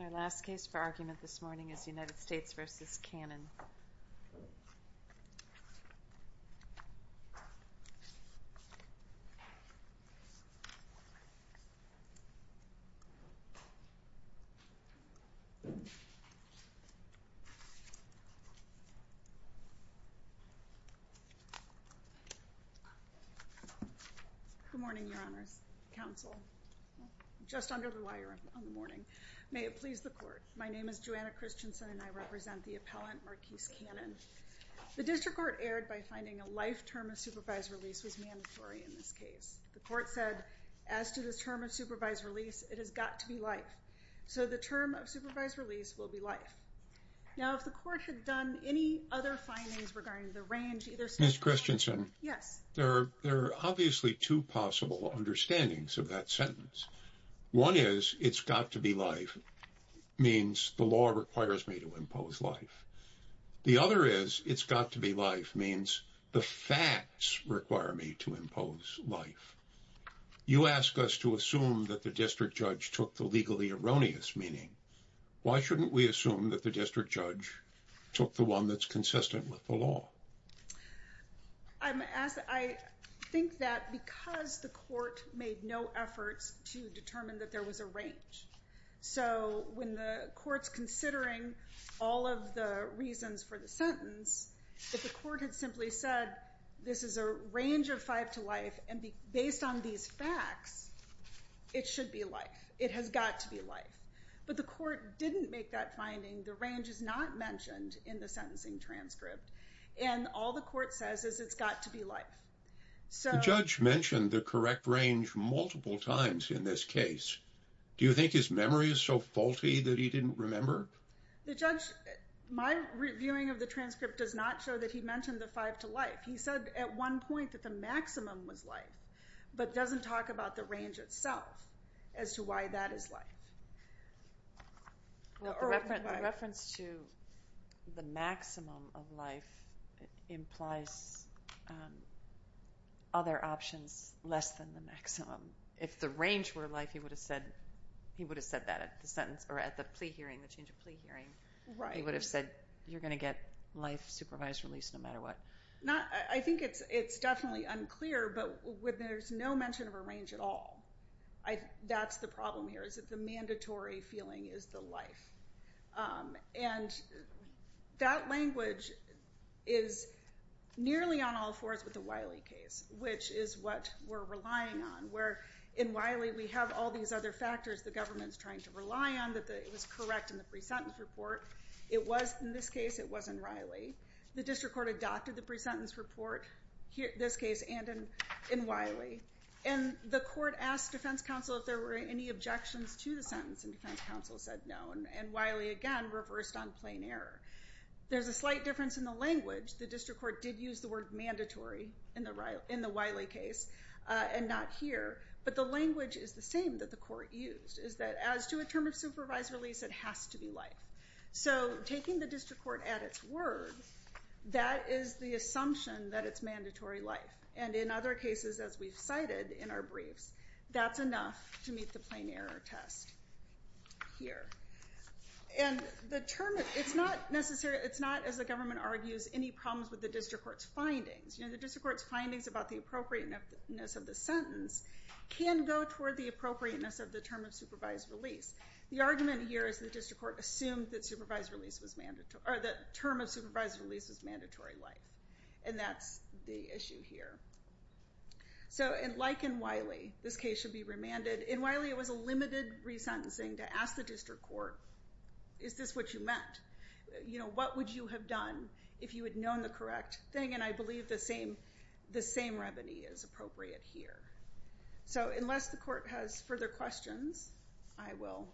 Our last case for argument this morning is United States v. Cannon. Good morning, your honors, counsel, just under the wire on the morning. May it please the court. My name is Joanna Christensen and I represent the appellant Marquise Cannon. The district court erred by finding a life term of supervised release was mandatory in this case. The court said, as to this term of supervised release, it has got to be life. So the term of supervised release will be life. Now, if the court had done any other findings regarding the range, either. Ms. Christensen. Yes. There are obviously two possible understandings of that sentence. One is it's got to be life means the law requires me to impose life. The other is it's got to be life means the facts require me to impose life. You ask us to assume that the district judge took the legally erroneous meaning. Why shouldn't we assume that the district judge took the one that's consistent with the law? I think that because the court made no efforts to determine that there was a range. So when the court's considering all of the reasons for the sentence, if the court had simply said this is a range of five to life and based on these facts, it should be life. It has got to be life. But the court didn't make that finding. The range is not mentioned in the sentencing transcript. And all the court says is it's got to be life. The judge mentioned the correct range multiple times in this case. Do you think his memory is so faulty that he didn't remember? The judge, my reviewing of the transcript does not show that he mentioned the five to life. He said at one point that the maximum was life, but doesn't talk about the range itself as to why that is life. The reference to the maximum of life implies other options less than the maximum. If the range were life, he would have said that at the change of plea hearing. He would have said you're going to get life, supervised release, no matter what. I think it's definitely unclear, but there's no mention of a range at all. That's the problem here. The mandatory feeling is the life. And that language is nearly on all fours with the Wiley case, which is what we're relying on, where in Wiley we have all these other factors the government is trying to rely on, that it was correct in the pre-sentence report. In this case, it wasn't Riley. The district court adopted the pre-sentence report, this case and in Wiley. And the court asked defense counsel if there were any objections to the sentence. And defense counsel said no. And Wiley, again, reversed on plain error. There's a slight difference in the language. The district court did use the word mandatory in the Wiley case and not here. But the language is the same that the court used, is that as to a term of supervised release, it has to be life. So taking the district court at its word, that is the assumption that it's mandatory life. And in other cases, as we've cited in our briefs, that's enough to meet the plain error test here. And it's not, as the government argues, any problems with the district court's findings. The district court's findings about the appropriateness of the sentence can go toward the appropriateness of the term of supervised release. The argument here is the district court assumed that term of supervised release was mandatory life. And that's the issue here. So like in Wiley, this case should be remanded. In Wiley, it was a limited resentencing to ask the district court, is this what you meant? What would you have done if you had known the correct thing? And I believe the same remedy is appropriate here. So unless the court has further questions, I will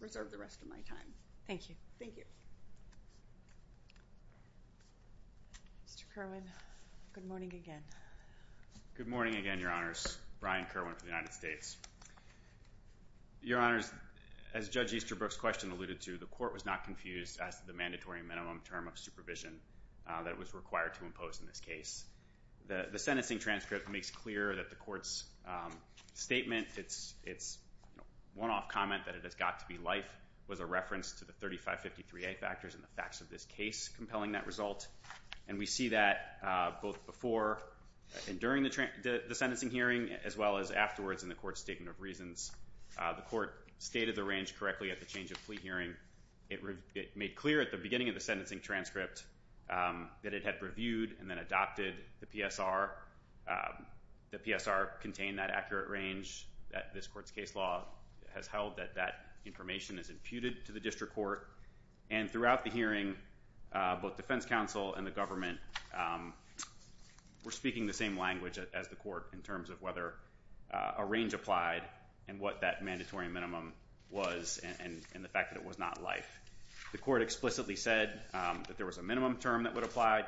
reserve the rest of my time. Thank you. Thank you. Mr. Kerwin, good morning again. Good morning again, Your Honors. Brian Kerwin for the United States. Your Honors, as Judge Easterbrook's question alluded to, the court was not confused as to the mandatory minimum term of supervision that was required to impose in this case. The sentencing transcript makes clear that the court's statement, its one-off comment that it has got to be life, was a reference to the 3553A factors in the facts of this case compelling that result. And we see that both before and during the sentencing hearing, as well as afterwards in the court's statement of reasons. The court stated the range correctly at the change of plea hearing. It made clear at the beginning of the sentencing transcript that it had reviewed and then adopted the PSR. The PSR contained that accurate range that this court's case law has held, that that information is imputed to the district court. And throughout the hearing, both defense counsel and the government were speaking the same language as the court in terms of whether a range applied and what that mandatory minimum was and the fact that it was not life. The court explicitly said that there was a minimum term that would apply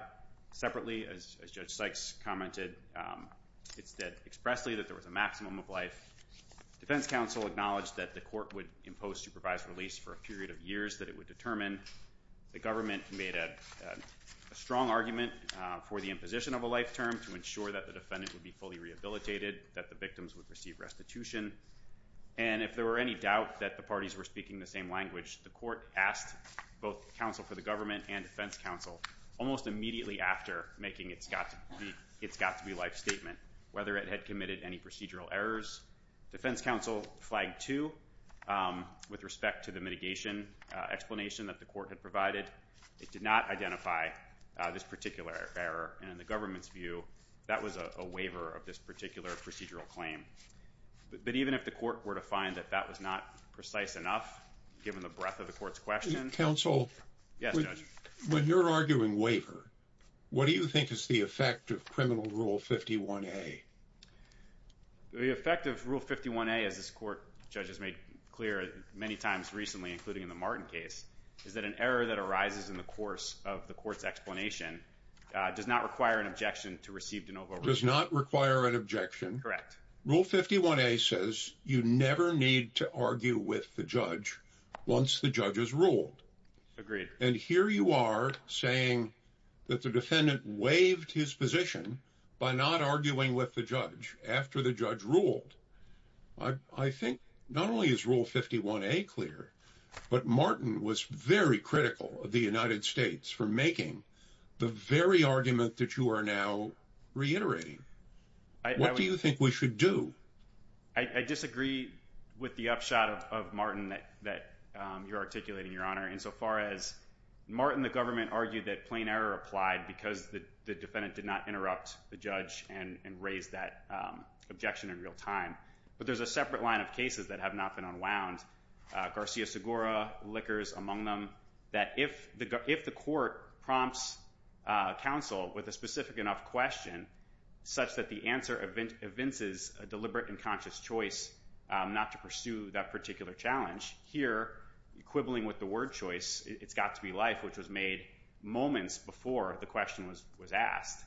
separately, as Judge Sykes commented. It said expressly that there was a maximum of life. Defense counsel acknowledged that the court would impose supervised release for a period of years that it would determine. The government made a strong argument for the imposition of a life term to ensure that the defendant would be fully rehabilitated, that the victims would receive restitution. And if there were any doubt that the parties were speaking the same language, the court asked both counsel for the government and defense counsel almost immediately after making its got-to-be-life statement, whether it had committed any procedural errors. Defense counsel flagged two with respect to the mitigation explanation that the court had provided. It did not identify this particular error, and in the government's view, that was a waiver of this particular procedural claim. But even if the court were to find that that was not precise enough, given the breadth of the court's question. Counsel? Yes, Judge. When you're arguing waiver, what do you think is the effect of criminal Rule 51A? The effect of Rule 51A, as this court, Judge, has made clear many times recently, including in the Martin case, is that an error that arises in the course of the court's explanation does not require an objection to receive de novo release. Does not require an objection. Correct. Rule 51A says you never need to argue with the judge once the judge has ruled. And here you are saying that the defendant waived his position by not arguing with the judge after the judge ruled. I think not only is Rule 51A clear, but Martin was very critical of the United States for making the very argument that you are now reiterating. What do you think we should do? I disagree with the upshot of Martin that you're articulating, Your Honor, insofar as Martin, the government, argued that plain error applied because the defendant did not interrupt the judge and raise that objection in real time. But there's a separate line of cases that have not been unwound, Garcia-Segura, Lickers, among them, that if the court prompts counsel with a specific enough question, such that the answer evinces a deliberate and conscious choice not to pursue that particular challenge, here, quibbling with the word choice, it's got to be life, which was made moments before the question was asked,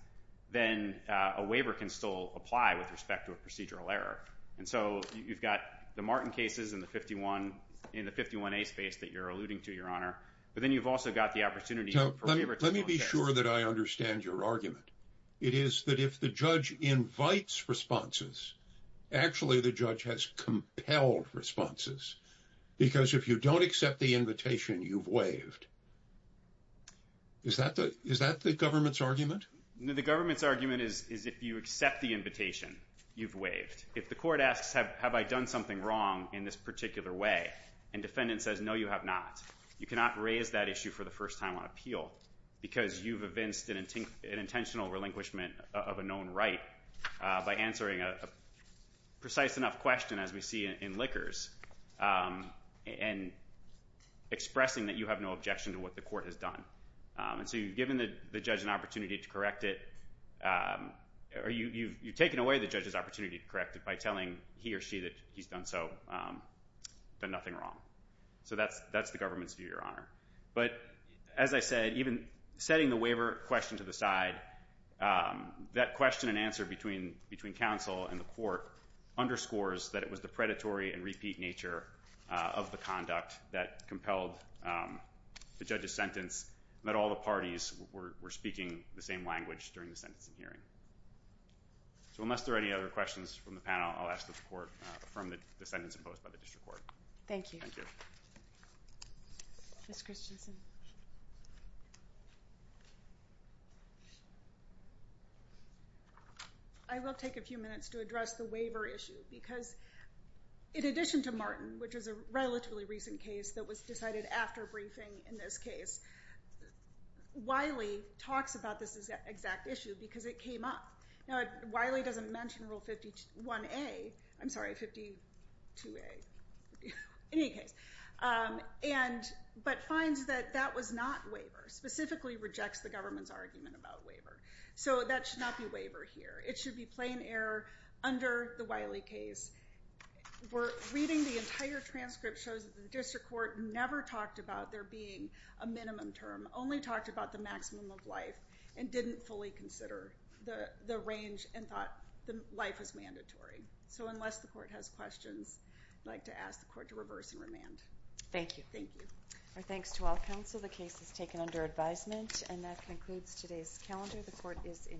then a waiver can still apply with respect to a procedural error. And so you've got the Martin cases in the 51A space that you're alluding to, Your Honor, but then you've also got the opportunity for waiver to be on case. Let me be sure that I understand your argument. It is that if the judge invites responses, actually the judge has compelled responses, because if you don't accept the invitation, you've waived. Is that the government's argument? The government's argument is if you accept the invitation, you've waived. If the court asks, have I done something wrong in this particular way, and defendant says, no, you have not, you cannot raise that issue for the first time on appeal because you've evinced an intentional relinquishment of a known right by answering a precise enough question, as we see in Lickers, and expressing that you have no objection to what the court has done. And so you've given the judge an opportunity to correct it, or you've taken away the judge's opportunity to correct it by telling he or she that he's done nothing wrong. So that's the government's view, Your Honor. But as I said, even setting the waiver question to the side, that question and answer between counsel and the court underscores that it was the predatory and repeat nature of the conduct that compelled the judge's sentence, and that all the parties were speaking the same language during the sentencing hearing. So unless there are any other questions from the panel, I'll ask that the court affirm the sentence imposed by the district court. Thank you. Thank you. Ms. Christensen. I will take a few minutes to address the waiver issue because in addition to Martin, which is a relatively recent case that was decided after briefing in this case, Wiley talks about this exact issue because it came up. Now, Wiley doesn't mention Rule 51A. I'm sorry, 52A. In any case, but finds that that was not waiver, specifically rejects the government's argument about waiver. So that should not be waiver here. It should be plain error under the Wiley case. Reading the entire transcript shows that the district court never talked about there being a minimum term, only talked about the maximum of life, and didn't fully consider the range and thought life was mandatory. So unless the court has questions, I'd like to ask the court to reverse and remand. Thank you. Thank you. Our thanks to all counsel. The case is taken under advisement. And that concludes today's calendar. The court is in recess.